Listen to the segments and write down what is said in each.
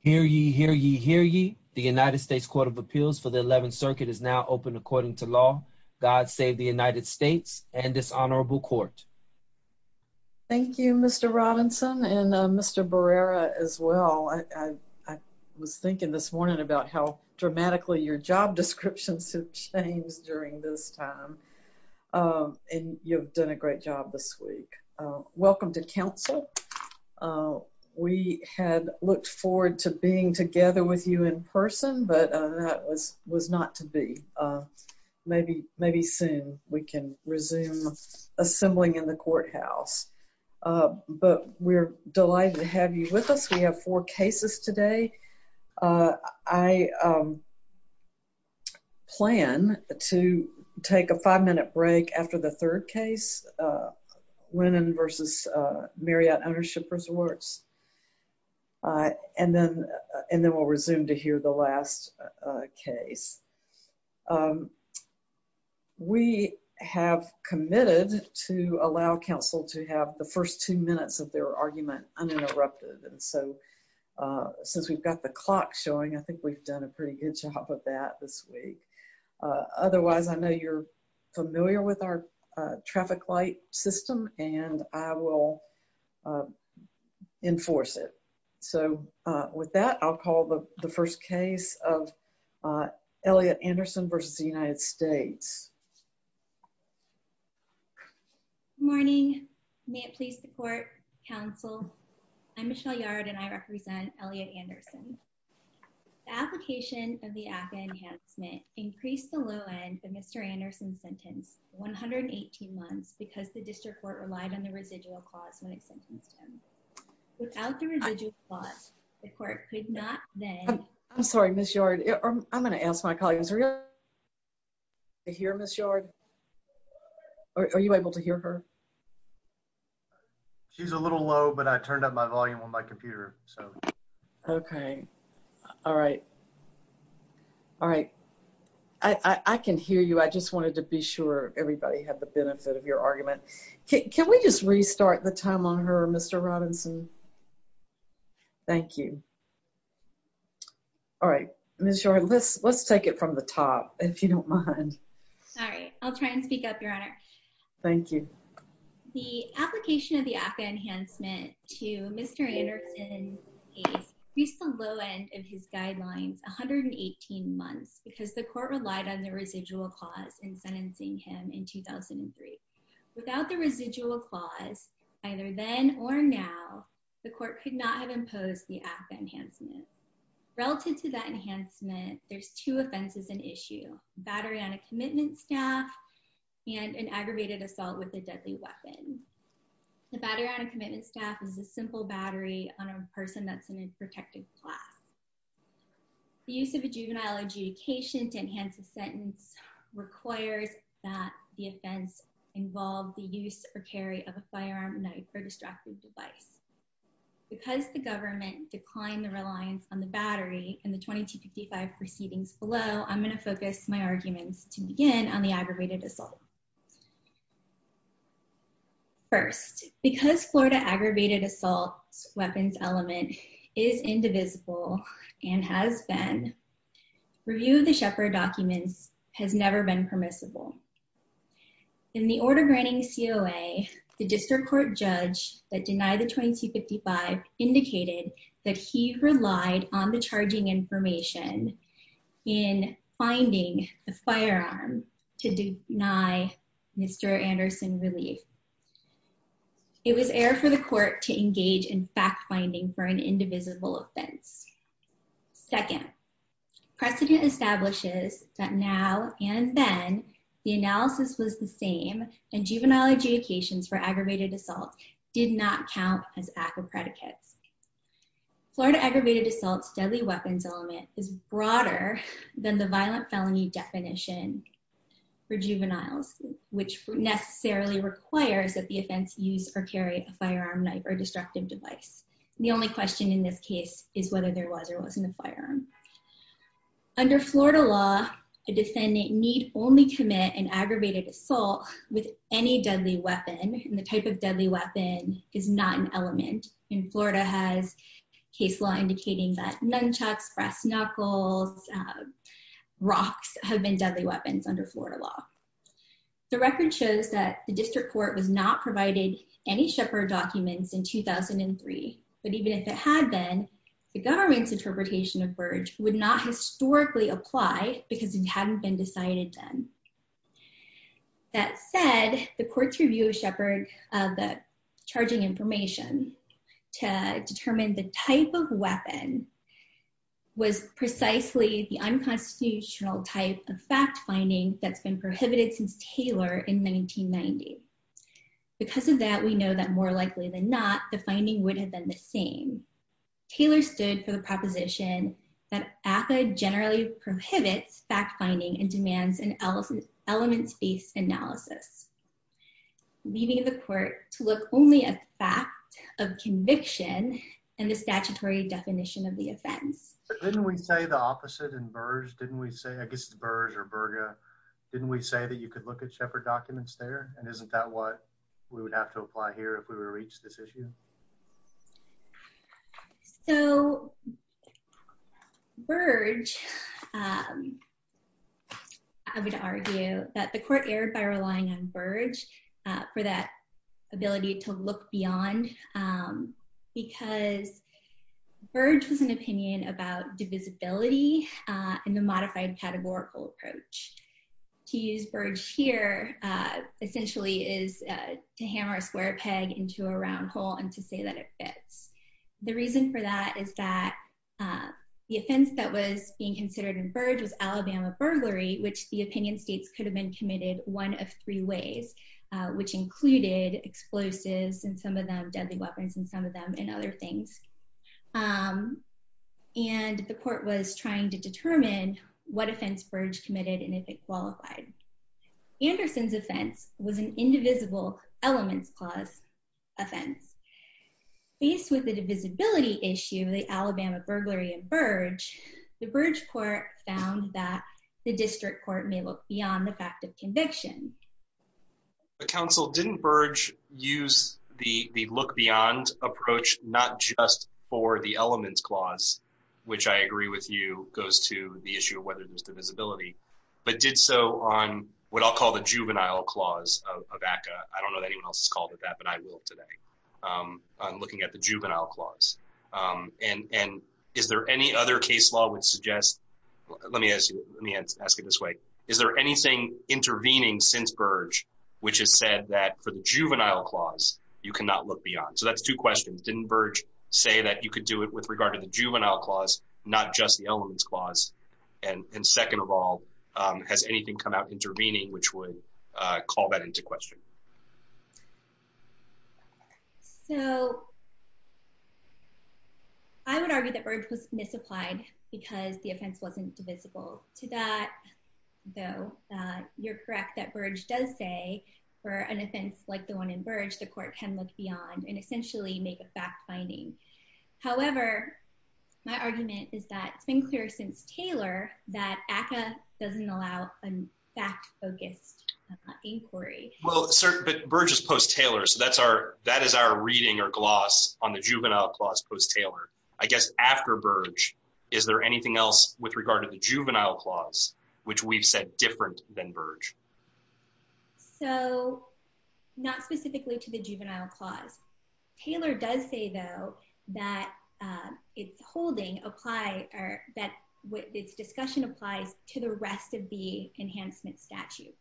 Hear ye, hear ye, hear ye. The United States Court of Appeals for the 11th Circuit is now open according to law. God save the United States and this honorable court. Thank you Mr. Robinson and Mr. Barrera as well. I was thinking this morning about how dramatically your job descriptions have changed during this time and you've done a great job this week. Welcome to council. We had looked forward to being together with you in person but that was not to be. Maybe soon we can resume assembling in the courthouse but we're delighted to have you with us. We have four cases today. I plan to take a five-minute break after the third case, Lennon v. Marriott Ownership Resorts, and then we'll resume to hear the last case. We have committed to allow council to have the first two minutes of their argument uninterrupted so since we've got the clock showing I think we've done a pretty good job of that this week. Otherwise I know you're familiar with our traffic light system and I will enforce it. So with that I'll call the first case of Elliott Anderson v. United States. Good morning. May it please the court, council. I'm Michelle Yard and I represent Elliott Anderson. The application of the ACA enhancement increased the low end of Mr. Anderson's sentence 118 months because the district court relied on the residual clause when it sentenced him. Without the residual clause the court could not then... I'm sorry Ms. Yard. I'm going to ask my audience to hear Ms. Yard. Are you able to hear her? She's a little low but I turned up my volume on my computer. Okay. All right. All right. I can hear you. I just wanted to be sure everybody had the benefit of your argument. Can we just restart the time on her Mr. Robinson? Thank you. All right. Ms. Yard, let's take it from the top if you don't mind. All right. I'll try and speak up your honor. Thank you. The application of the ACA enhancement to Mr. Anderson's case reached the low end of his guidelines 118 months because the court relied on the residual clause in sentencing him in 2003. Without the residual clause either then or now the court could not impose the ACA enhancement. Relative to that enhancement there's two offenses in issue. Battery on a commitment staff and an aggravated assault with a deadly weapon. The battery on a commitment staff is a simple battery on a person that's in a protected class. The use of a juvenile adjudication to enhance a sentence requires that the offense involve the use or carry of a firearm, knife, or destructive device. Because the government declined the reliance on the battery in the 2255 proceedings below I'm going to focus my arguments to begin on the aggravated assault. First, because Florida aggravated assault weapons element is indivisible and has been, review of the Shepard documents has never been permissible. In the order granting COA the district court judge that denied the 2255 indicated that he relied on the charging information in finding the firearm to deny Mr. Anderson relief. It was air for the court to engage in fact finding for an indivisible offense. Second, precedent establishes that now and then the analysis was the same and juvenile adjudications for aggravated assault did not count as ACA predicates. Florida aggravated assaults deadly weapons element is broader than the violent felony definition for juveniles which necessarily requires that the offense use or carry a firearm, knife, or destructive device. The only question in this case is whether there was or wasn't a firearm. Under Florida law a defendant need only commit an aggravated assault with any deadly weapon and the type of deadly weapon is not an element. In Florida has case law indicating that nunchucks, brass knuckles, rocks have been deadly weapons under Florida law. The record shows that the but even if it had been the government's interpretation of Burge would not historically apply because it hadn't been decided then. That said the court's review of Shepherd of the charging information to determine the type of weapon was precisely the unconstitutional type of fact finding that's been prohibited since Taylor in 1990. Because of that we know that likely than not the finding would have been the same. Taylor stood for the proposition that ACA generally prohibits fact finding and demands an elements-based analysis. Leaving the court to look only at the fact of conviction and the statutory definition of the offense. Didn't we say the opposite in Burge? Didn't we say I guess Burge or Berga didn't we say that you could look at Shepherd documents there and isn't that what we would have to apply here if we were to reach this issue? So Burge I would argue that the court erred by relying on Burge for that ability to look beyond because Burge was an opinion about divisibility in the whole and to say that it fits. The reason for that is that the offense that was being considered in Burge was Alabama burglary which the opinion states could have been committed one of three ways which included explosives and some of them deadly weapons and some of them and other things. And the court was trying to determine what offense Burge committed and if it qualified. Anderson's offense was an indivisible elements clause offense. Faced with the divisibility issue the Alabama burglary in Burge the Burge court found that the district court may look beyond the fact of conviction. But counsel didn't Burge use the look beyond approach not just for the elements clause which I agree with you goes to the issue of whether there's divisibility but did so on what I'll call the juvenile clause of ACCA. I don't know that anyone else has called it that but I will today. I'm looking at the juvenile clause and is there any other case law would suggest let me ask you let me ask you this way is there anything intervening since Burge which has said that for the juvenile clause you cannot look beyond. So that's two questions didn't Burge say that you could do it with regard to the juvenile clause not just the elements clause and second of all has anything come out intervening which would call that into question. So I would argue that Burge was misapplied because the offense wasn't divisible to that though you're correct that Burge does say for an offense like the one in Burge the court can look that ACCA doesn't allow a fact-focused inquiry. Well sir but Burge is post-Taylor so that's our that is our reading or gloss on the juvenile clause post-Taylor. I guess after Burge is there anything else with regard to the juvenile clause which we've said different than Burge. So not specifically to the juvenile clause. Taylor does say though that it's holding apply that what its discussion applies to the rest of the enhancement statute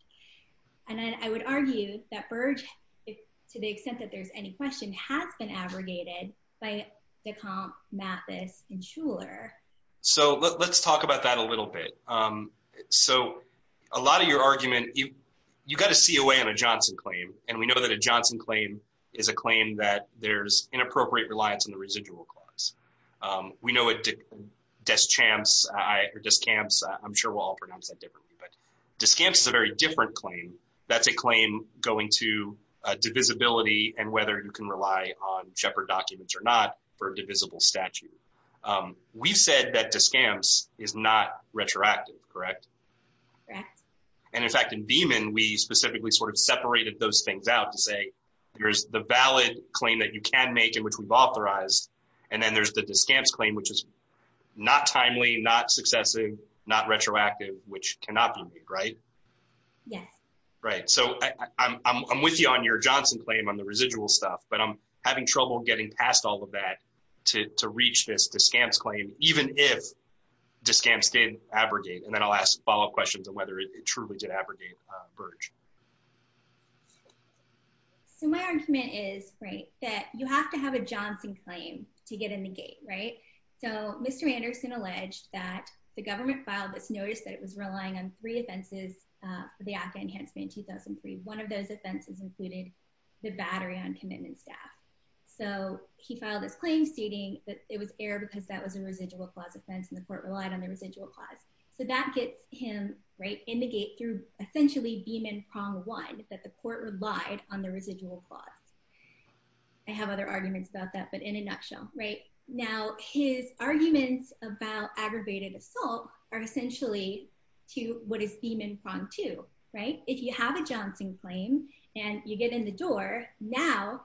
and then I would argue that Burge if to the extent that there's any question has been abrogated by Decomp Mathis and Shuler. So let's talk about that a little bit. So a lot of your argument you you got a COA on a Johnson claim and we know that a Johnson claim is a claim that there's inappropriate reliance on the residual clause. We know it Deschamps I or Deschamps I'm sure we'll all pronounce that differently but Deschamps is a very different claim that's a claim going to divisibility and whether you can rely on Shepard documents or not for a divisible statute. We've said that Deschamps is not retroactive correct and in fact in Beeman we specifically sort of separated those things out to say there's the valid claim that you can make in which we've authorized and then there's the Deschamps claim which is not timely not successive not retroactive which cannot be made right. Yeah. Right so I'm with you on your Johnson claim on the residual stuff but I'm having trouble getting past all of that to reach this Deschamps claim even if Deschamps did abrogate and then I'll ask follow-up questions on whether it truly did abrogate Burge. So my argument is right that you have to have a Johnson claim to get in the gate right so Mr. Anderson alleged that the government filed this notice that it was relying on three offenses uh for the active enhancement in 2003. One of those offenses included the battery on commitment staff so he filed this claim stating that it was error because that was a residual clause offense and court relied on the residual clause so that gets him right in the gate through essentially Beeman prong one that the court relied on the residual clause. I have other arguments about that but in a nutshell right now his arguments about aggravated assault are essentially to what is Beeman prong two right if you have a Johnson claim and you get in the door now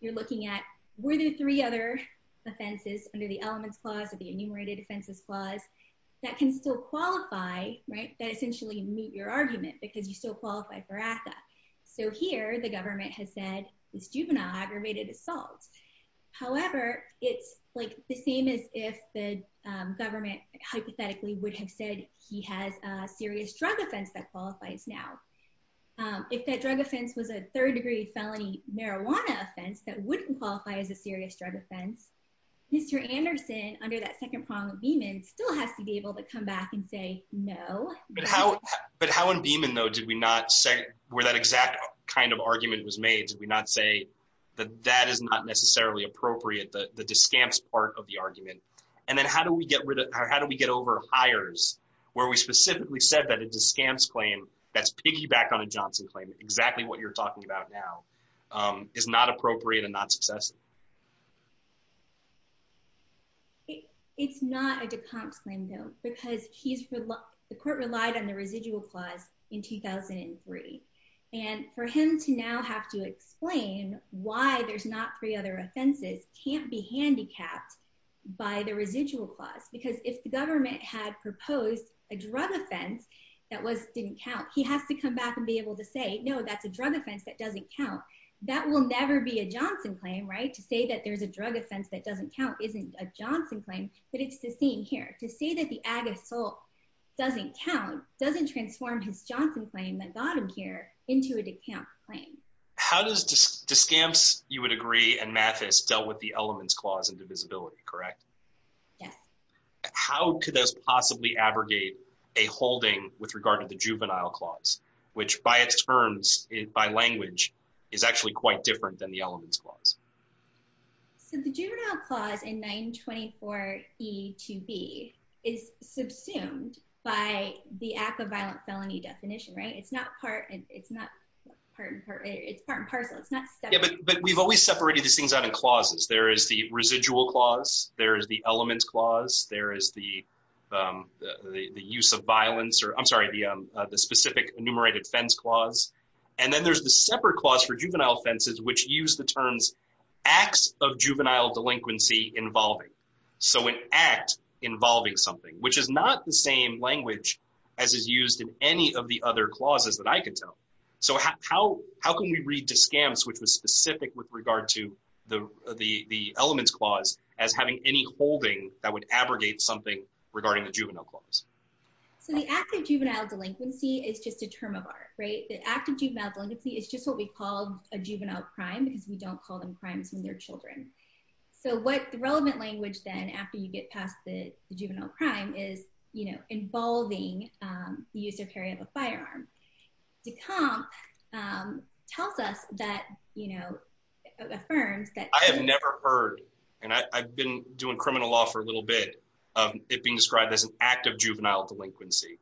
you're looking at were there three other offenses under the elements clause or the enumerated offenses clause that can still qualify right that essentially meet your argument because you still qualify for ACTA. So here the government has said it's juvenile aggravated assault however it's like the same as if the government hypothetically would have said he has a serious drug offense that qualifies now. If that drug offense was a third degree felony marijuana offense that wouldn't qualify as a drug offense. Mr. Anderson under that second prong of Beeman still has to be able to come back and say no but how but how in Beeman though did we not say where that exact kind of argument was made did we not say that that is not necessarily appropriate the the discamps part of the argument and then how do we get rid of how do we get over hires where we specifically said that a discamps claim that's piggyback on a Johnson claim exactly what you're talking about now um is not appropriate and not successful. It's not a discamps claim though because he's the court relied on the residual clause in 2003 and for him to now have to explain why there's not three other offenses can't be handicapped by the residual clause because if the government had proposed a drug offense that was didn't count he has to come back and be able to say no that's a drug offense that doesn't count that will never be a Johnson claim right to say that there's a drug offense that doesn't count isn't a Johnson claim but it's the same here to say that the ag assault doesn't count doesn't transform his Johnson claim that got him here into a decamped claim. How does discamps you would agree and Mathis dealt with the elements clause and divisibility correct? Yes. How could those possibly abrogate a holding with regard to the juvenile clause which by its terms it by language is actually quite different than the elements clause. So the juvenile clause in 924 E2B is subsumed by the act of violent felony definition right it's not part and it's not part and parcel it's not but we've always separated these things out in clauses there is the residual clause there is the elements clause there is the um the use of violence or I'm sorry the um clause and then there's the separate clause for juvenile offenses which use the terms acts of juvenile delinquency involving so an act involving something which is not the same language as is used in any of the other clauses that I can tell so how how can we read to scams which was specific with regard to the the the elements clause as having any holding that would abrogate something regarding the juvenile clause so the active juvenile delinquency is just a term of art right the active juvenile delinquency is just what we call a juvenile crime because we don't call them crimes from their children so what the relevant language then after you get past the juvenile crime is you know involving um the use of carry of a firearm to comp um tells us that you know affirms that I have never heard and I've been doing criminal law for a little bit it being described as an act of juvenile delinquency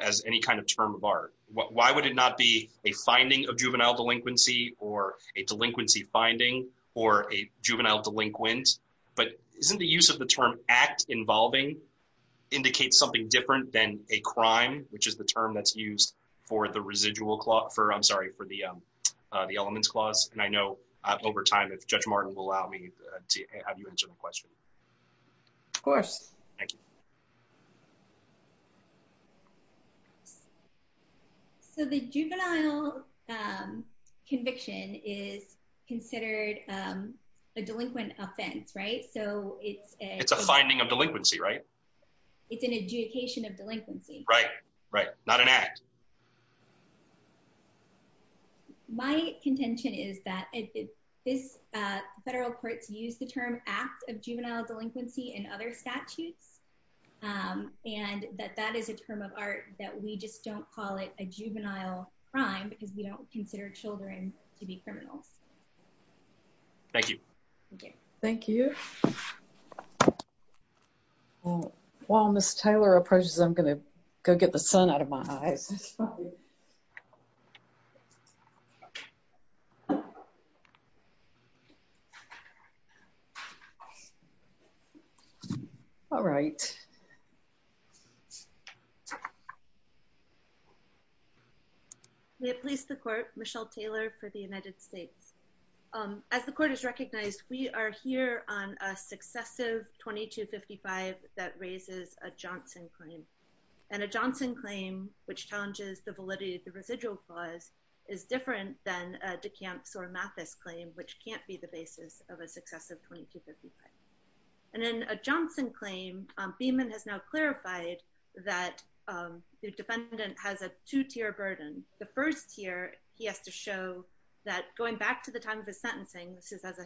as any kind of term of art why would it not be a finding of juvenile delinquency or a delinquency finding or a juvenile delinquent but isn't the use of the term act involving indicates something different than a crime which is the term that's used for the residual clause for I'm sorry for the um uh the elements clause and I know uh over time if Judge Martin will allow me to have you answer the question of course thank you so the juvenile um conviction is considered um a delinquent offense right so it's a it's a finding of delinquency right it's an adjudication of delinquency right right not an act um and that that is a term of art that we just don't call it a juvenile crime because we don't consider children to be criminals thank you thank you thank you well while Miss Taylor approaches I'm going to go get the sun out of my eyes sorry all right we have placed the court Michelle Taylor for the United States as the court is recognized we are here on a successive 2255 that raises a Johnson claim and a Johnson claim which challenges the validity of the residual clause is different than a DeCamps or Mathis claim which can't be the basis of a successive 2255 and then a Johnson claim um Beaman has now clarified that um the defendant has a two-tier burden the first tier he has to show that going back to the time of his sentencing this is as a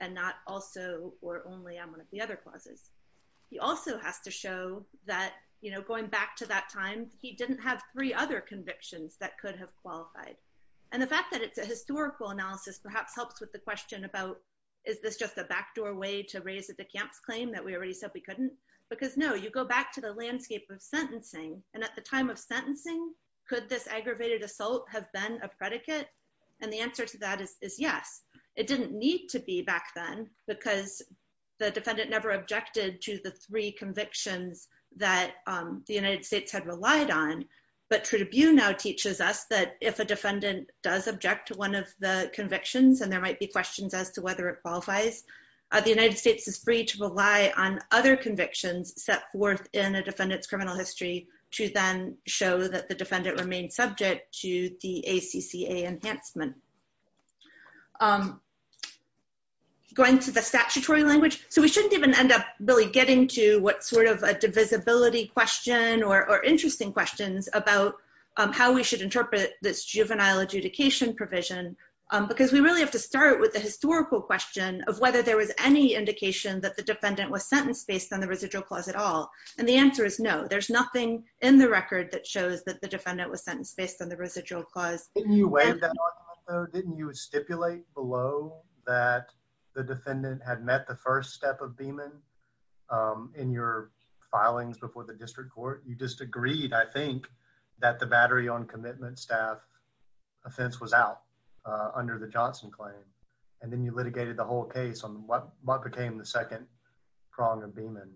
and not also or only on one of the other clauses he also has to show that you know going back to that time he didn't have three other convictions that could have qualified and the fact that it's a historical analysis perhaps helps with the question about is this just a backdoor way to raise a DeCamps claim that we already said we couldn't because no you go back to the landscape of sentencing and at the time of sentencing could this aggravated assault have been a predicate and the answer to that is yes it didn't need to be back then because the defendant never objected to the three convictions that um the United States had relied on but Tribune now teaches us that if a defendant does object to one of the convictions and there might be questions as to whether it qualifies the United States is free to rely on other convictions set forth in a defendant's enhancement going to the statutory language so we shouldn't even end up really getting to what sort of a divisibility question or interesting questions about how we should interpret this juvenile adjudication provision because we really have to start with the historical question of whether there was any indication that the defendant was sentenced based on the residual clause at all and the answer is no there's nothing in the record that shows that the defendant was sentenced based on the residual clause. Didn't you stipulate below that the defendant had met the first step of Beaman um in your filings before the district court you just agreed I think that the battery on commitment staff offense was out uh under the Johnson claim and then you litigated the whole case on what what became the second prong of Beaman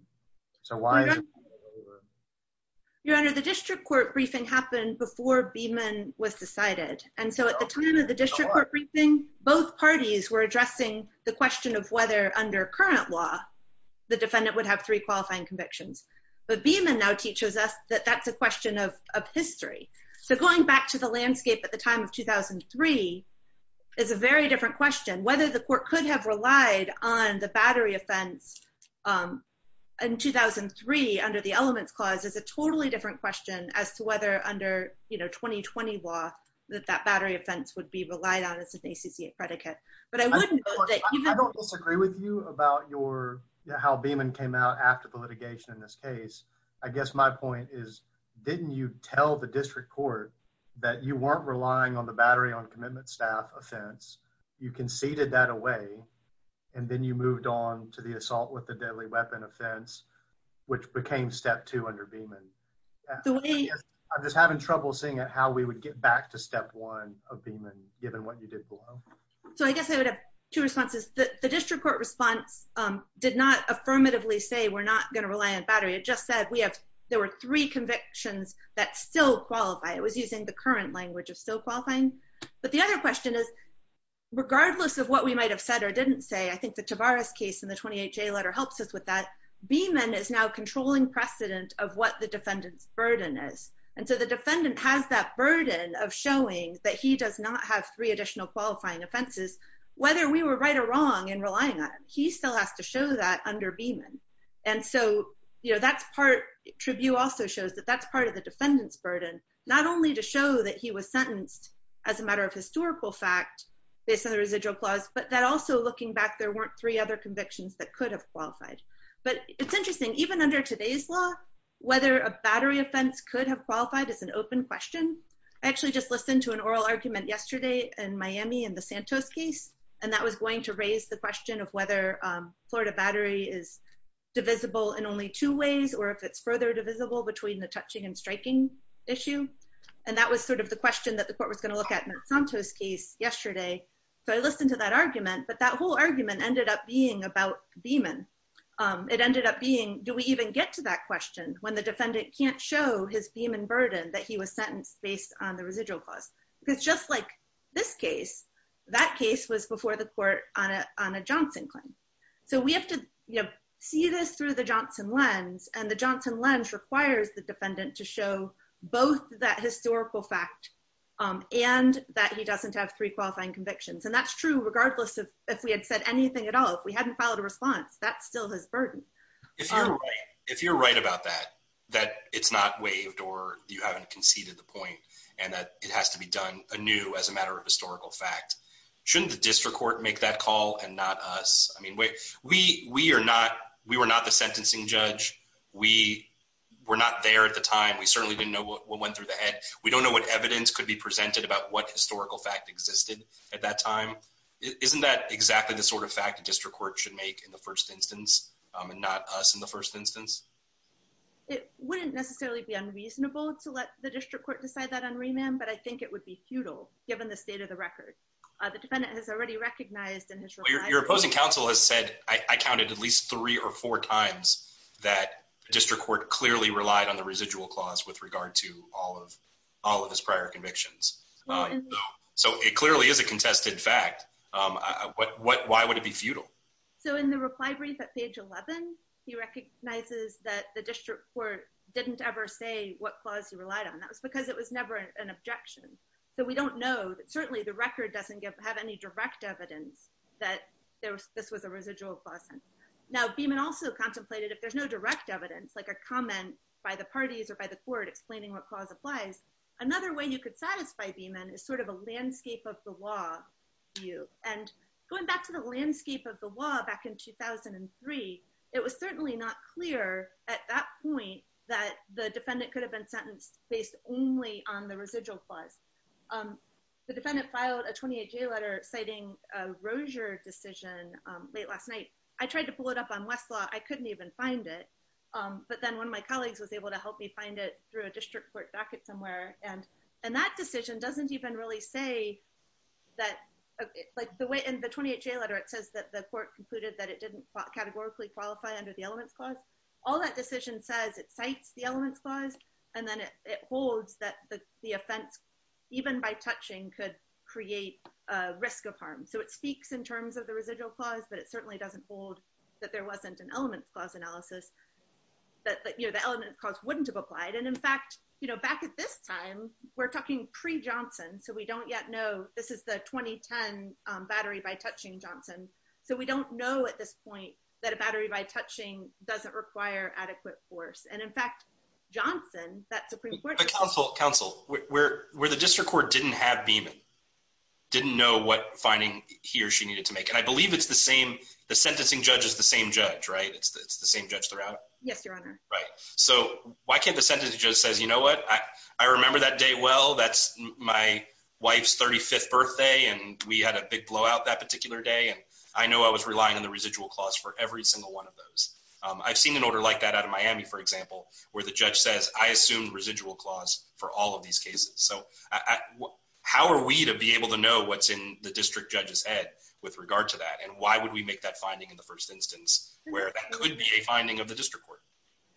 so why? Your honor the district court briefing happened before Beaman was decided and so at the time of the district court briefing both parties were addressing the question of whether under current law the defendant would have three qualifying convictions but Beaman now teaches us that that's a question of of history so going back to the landscape at the time of 2003 is a very different question whether the court could have relied on the battery offense um in 2003 under the elements clause is a totally different question as to whether under you know 2020 law that that battery offense would be relied on as an ACCA predicate but I wouldn't disagree with you about your how Beaman came out after the litigation in this case I guess my point is didn't you tell the seated that away and then you moved on to the assault with the deadly weapon offense which became step two under Beaman the way I'm just having trouble seeing it how we would get back to step one of Beaman given what you did below so I guess I would have two responses the district court response um did not affirmatively say we're not going to rely on battery it just said we have there were three convictions that still qualify it was using the current language of still qualifying but the other question is regardless of what we might have said or didn't say I think the Tavares case in the 28 j letter helps us with that Beaman is now controlling precedent of what the defendant's burden is and so the defendant has that burden of showing that he does not have three additional qualifying offenses whether we were right or wrong in relying on him he still has to show that under Beaman and so you know that's part tribute also shows that that's part of the defendant's burden not only to show that he was sentenced as a matter of historical fact based on the residual clause but that also looking back there weren't three other convictions that could have qualified but it's interesting even under today's law whether a battery offense could have qualified is an open question I actually just listened to an oral argument yesterday in Miami in the Santos case and that was going to raise the question of whether Florida battery is divisible in only two ways or if it's further divisible between the touching and striking issue and that was sort of the question that the court was going to look at in Santos case yesterday so I listened to that argument but that whole argument ended up being about Beaman it ended up being do we even get to that question when the defendant can't show his Beaman burden that he was sentenced based on the residual clause because just like this case that case was before the court on a on a Johnson claim so we have to you know see this through the Johnson lens and the Johnson lens requires the defendant to show both that historical fact and that he doesn't have three qualifying convictions and that's true regardless of if we had said anything at all if we hadn't filed a response that's still his burden if you're right if you're right about that that it's not waived or you haven't conceded the point and that it has to be done anew as a matter of historical fact shouldn't the district court make that call and not us I mean we we are not we were not the sentencing judge we were not there at the time we certainly didn't know what went through the head we don't know what evidence could be presented about what historical fact existed at that time isn't that exactly the sort of fact the district court should make in the first instance and not us in the first instance it wouldn't necessarily be unreasonable to let the district court decide that on remand but I think it would be futile given the state of the record uh the defendant has already recognized and your opposing counsel has said I counted at least three or four times that district court clearly relied on the residual clause with regard to all of all of his prior convictions um so it clearly is a contested fact um what what why would it be futile so in the reply brief at page 11 he recognizes that the what clause he relied on that was because it was never an objection so we don't know that certainly the record doesn't give have any direct evidence that there was this was a residual class and now beeman also contemplated if there's no direct evidence like a comment by the parties or by the court explaining what clause applies another way you could satisfy beeman is sort of a landscape of the law view and going back to the landscape of the law back in 2003 it was certainly not clear at that point that the defendant could have been sentenced based only on the residual clause um the defendant filed a 28 j letter citing a rosier decision um late last night I tried to pull it up on westlaw I couldn't even find it um but then one of my colleagues was able to help me find it through a district court docket somewhere and and that decision doesn't even really say that like the way in the 28 j letter it says that the court concluded that it didn't categorically qualify under the elements clause all that decision says it cites the elements clause and then it holds that the offense even by touching could create a risk of harm so it speaks in terms of the residual clause but it certainly doesn't hold that there wasn't an elements clause analysis that you know the element cause wouldn't have applied and in fact you know back at this time we're talking pre johnson so we don't yet know this is the 2010 battery by touching johnson so we don't know at this point that a battery by touching doesn't require adequate force and in fact johnson that supreme court council council where where the district court didn't have beeman didn't know what finding he or she needed to make and I believe it's the same the sentencing judge is the same judge right it's the same judge throughout yes your honor right so why can't the sentence just says you know what I remember that day well that's my wife's 35th birthday and we had a big blowout that particular day and I know I was relying on the residual clause for every single one of those I've seen an order like that out of Miami for example where the judge says I assume residual clause for all of these cases so I how are we to be able to know what's in the district judge's head with regard to that and why would we make that finding in the first instance where that could be a finding of the district court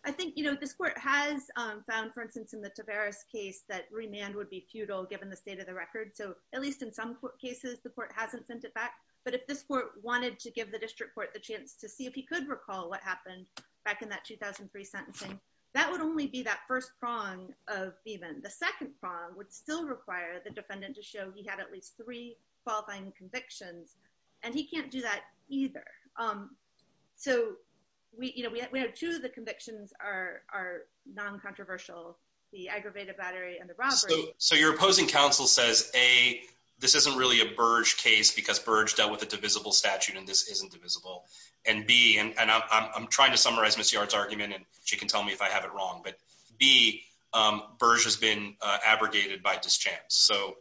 I think you know this court has found for instance in the Tavares case that remand would be futile given the state of the record so at least in some cases the court hasn't sent it back but if this court wanted to give the district court the chance to see if he could recall what happened back in that 2003 sentencing that would only be that first prong of even the second prong would still require the defendant to show he had at least three qualifying convictions and he can't do that either um so we you know we have two of the convictions are are non-controversial the aggravated battery and the robbery so your opposing counsel says a this isn't really a burge case because burge dealt with a divisible statute and this isn't divisible and b and and i'm trying to summarize miss yard's argument and she can tell me if i have it wrong but b um burge has been uh abrogated by dischance so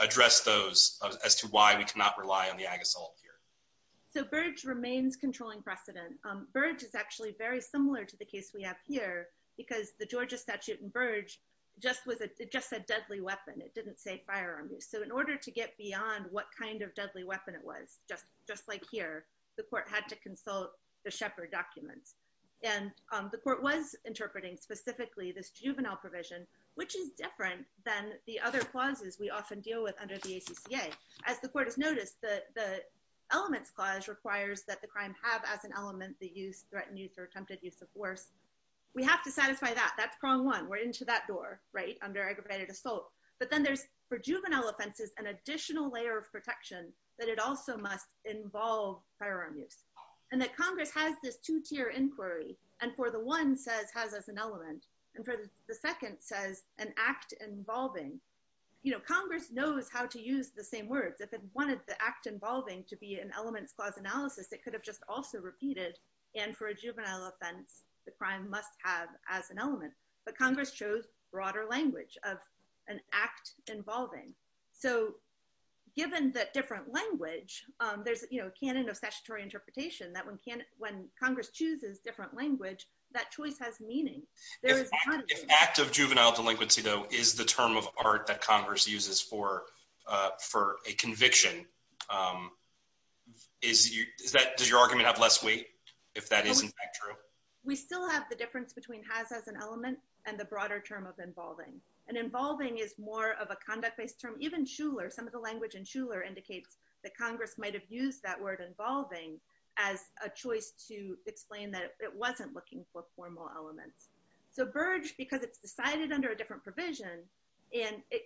address those as to why we cannot rely on the ag assault here so burge remains controlling precedent um burge is actually very similar to the case we have here because the georgia statute and burge just was a just a deadly weapon it didn't say firearm use so in order to get beyond what kind of deadly weapon it was just just like here the court had to consult the shepherd documents and the court was interpreting specifically this juvenile provision which is different than the other clauses we often deal with under the acca as the court has noticed that the elements clause requires that the crime have as an element the use threatened youth or attempted use of force we have to satisfy that that's prong one we're into that door right under aggravated assault but then there's for juvenile offenses an additional layer of protection that it also must involve firearm use and that congress has this two-tier inquiry and for the one says has as an element and for the second says an act involving you know congress knows how to use the same words if it wanted the act involving to be an elements clause analysis it could have just also repeated and for a juvenile offense the crime must have as an element but congress chose broader language of an act involving so given the different language um there's you know canon of statutory interpretation that when can when congress chooses different language that choice has meaning there is not an act of juvenile delinquency though is the term of art that if that isn't true we still have the difference between has as an element and the broader term of involving and involving is more of a conduct-based term even schuler some of the language and schuler indicates that congress might have used that word involving as a choice to explain that it wasn't looking for formal elements so burge because it's decided under a different provision and it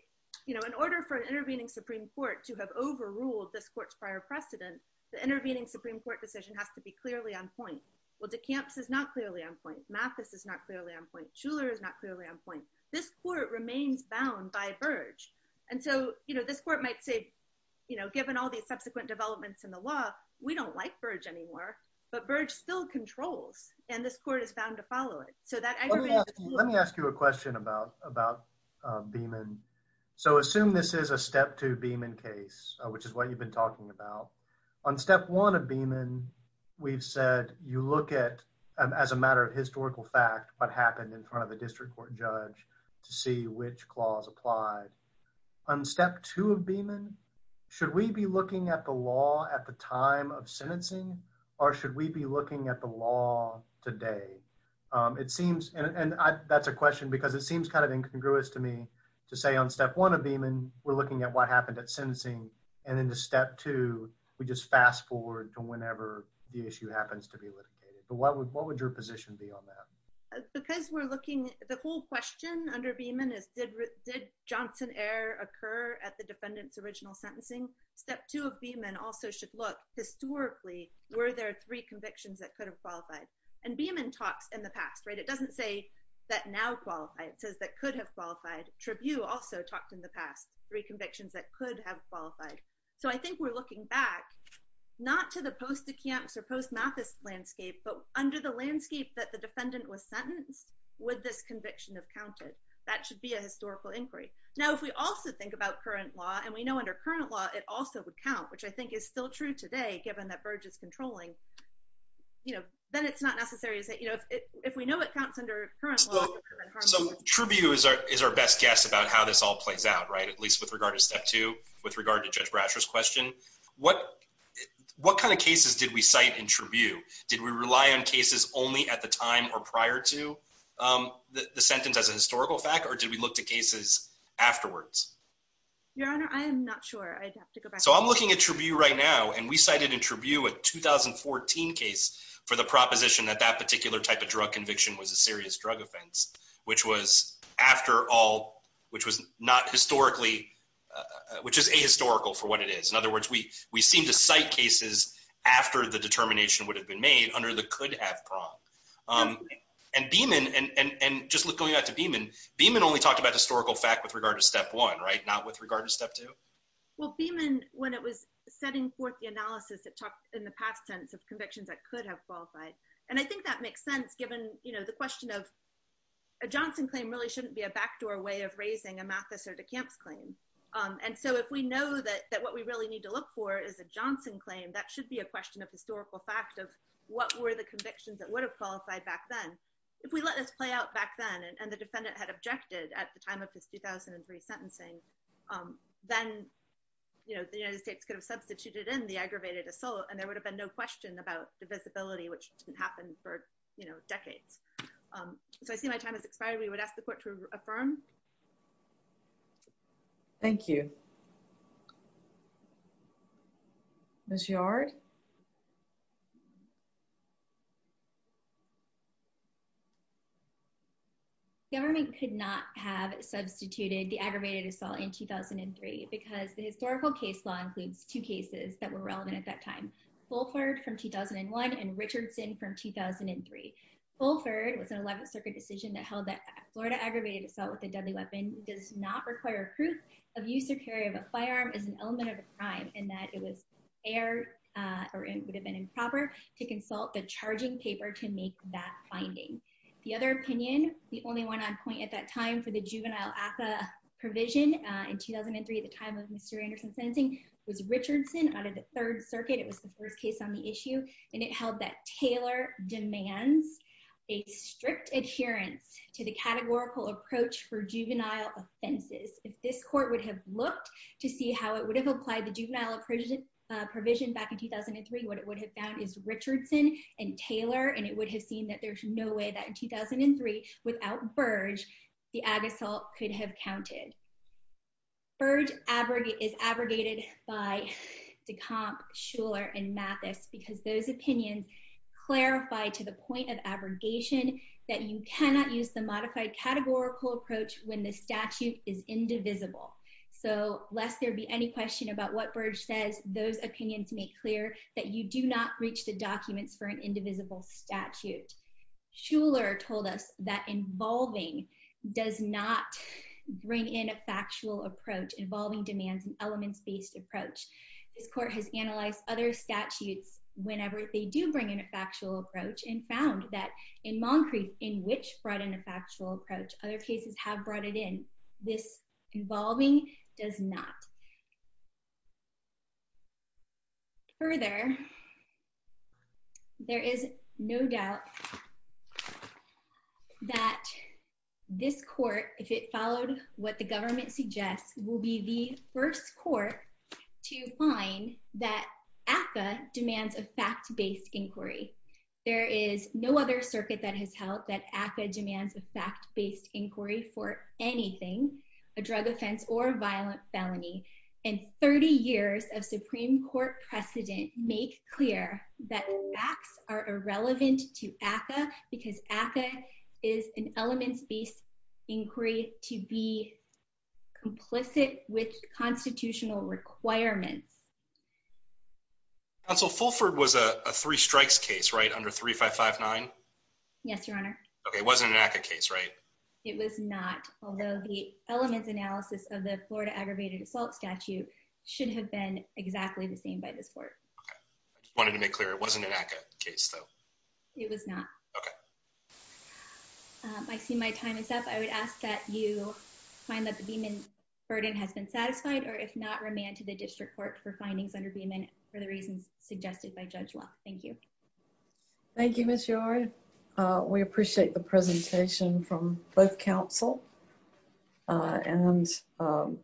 you know in order for an intervening supreme court to have overruled this court's precedent the intervening supreme court decision has to be clearly on point well decamps is not clearly on point mathis is not clearly on point schuler is not clearly on point this court remains bound by burge and so you know this court might say you know given all these subsequent developments in the law we don't like burge anymore but burge still controls and this court is bound to follow it so that aggravated let me ask you a question about about uh beeman so assume this is a step two beeman case which is what you've been talking about on step one of beeman we've said you look at as a matter of historical fact what happened in front of the district court judge to see which clause applied on step two of beeman should we be looking at the law at the time of sentencing or should we be looking at the law today um it seems and i that's a question because it seems kind of incongruous to me to say on step one of beeman we're looking at what happened at sentencing and then the step two we just fast forward to whenever the issue happens to be litigated but what would what would your position be on that because we're looking the whole question under beeman is did did johnson error occur at the defendant's original sentencing step two of beeman also should look historically were there three convictions that could have qualified and beeman talks in the past right it doesn't say that now qualify it says that could have qualified tribune also talked in the past three convictions that could have qualified so i think we're looking back not to the post the camps or post mathis landscape but under the landscape that the defendant was sentenced would this conviction have counted that should be a historical inquiry now if we also think about current law and we know under current law it also would count which i think is still true today given that burge is controlling you know then it's not necessary to say you know if we know it counts under current law so tribute is our is our best guess about how this all plays out right at least with regard to step two with regard to judge brasher's question what what kind of cases did we cite in tribute did we rely on cases only at the time or prior to um the sentence as a historical fact or did we look to cases afterwards your honor i am not sure i'd have to so i'm looking at tribute right now and we cited in tribute a 2014 case for the proposition that that particular type of drug conviction was a serious drug offense which was after all which was not historically uh which is a historical for what it is in other words we we seem to cite cases after the determination would have been made under the could have prong um and beeman and and and just look going out to beeman beeman only talked about historical fact with regard to step one right not with regard to step two well beeman when it was setting forth the analysis that talked in the past tense of convictions that could have qualified and i think that makes sense given you know the question of a johnson claim really shouldn't be a backdoor way of raising a mathis or decamps claim um and so if we know that that what we really need to look for is a johnson claim that should be a question of historical fact of what were the convictions that would have qualified back then if we let us play out back then and the defendant had objected at the time of his 2003 sentencing um then you know the united states could have substituted in the aggravated assault and there would have been no question about the visibility which didn't happen for you know decades um so i see my time has expired we would ask the court to affirm thank you miss yard government could not have substituted the aggravated assault in 2003 because the historical case law includes two cases that were relevant at that time fulford from 2001 and richardson from 2003 fulford was an 11th circuit decision that held that florida aggravated assault with a deadly weapon does not require proof of use or carry of a firearm as an element of a crime and that it was fair or it would have been improper to consult the charging paper to make that finding the other opinion the only one on point at that time for the juvenile affa provision uh in 2003 at the time of mr anderson sentencing was richardson out of the third circuit it was the first case on the issue and it held that taylor demands a strict adherence to the categorical approach for juvenile offenses if this court would have looked to see how it would have applied the juvenile provision back in 2003 what it would have found is richardson and taylor and it would have seen that there's no way that in 2003 without burge the ag assault could have counted burge abrogate is abrogated by decomp schuler and mathis because those opinions clarify to the point of abrogation that you cannot use the modified categorical approach when the statute is indivisible so lest there be any question about what burge says those opinions make clear that you do not reach the documents for an indivisible statute schuler told us that involving does not bring in a factual approach involving demands and elements based approach this court has analyzed other statutes whenever they do bring in a factual approach and found that in montgomery in which brought in a factual approach other cases have brought it in this involving does not further there is no doubt that this court if it followed what the government suggests will be the first court to find that demands a fact-based inquiry there is no other circuit that has held that aca demands a fact-based inquiry for anything a drug offense or a violent felony and 30 years of supreme court precedent make clear that facts are irrelevant to aca because aca is an elements based inquiry to be complicit with constitutional requirements counsel fulford was a three strikes case right under 3559 yes your honor okay it wasn't an aca case right it was not although the elements analysis of the florida aggravated assault statute should have been exactly the same by this court i just wanted to make clear it wasn't an aca case it was not okay i see my time is up i would ask that you find that the beeman burden has been satisfied or if not remand to the district court for findings under beeman for the reasons suggested by judge law thank you thank you miss yard uh we appreciate the presentation from both council uh and um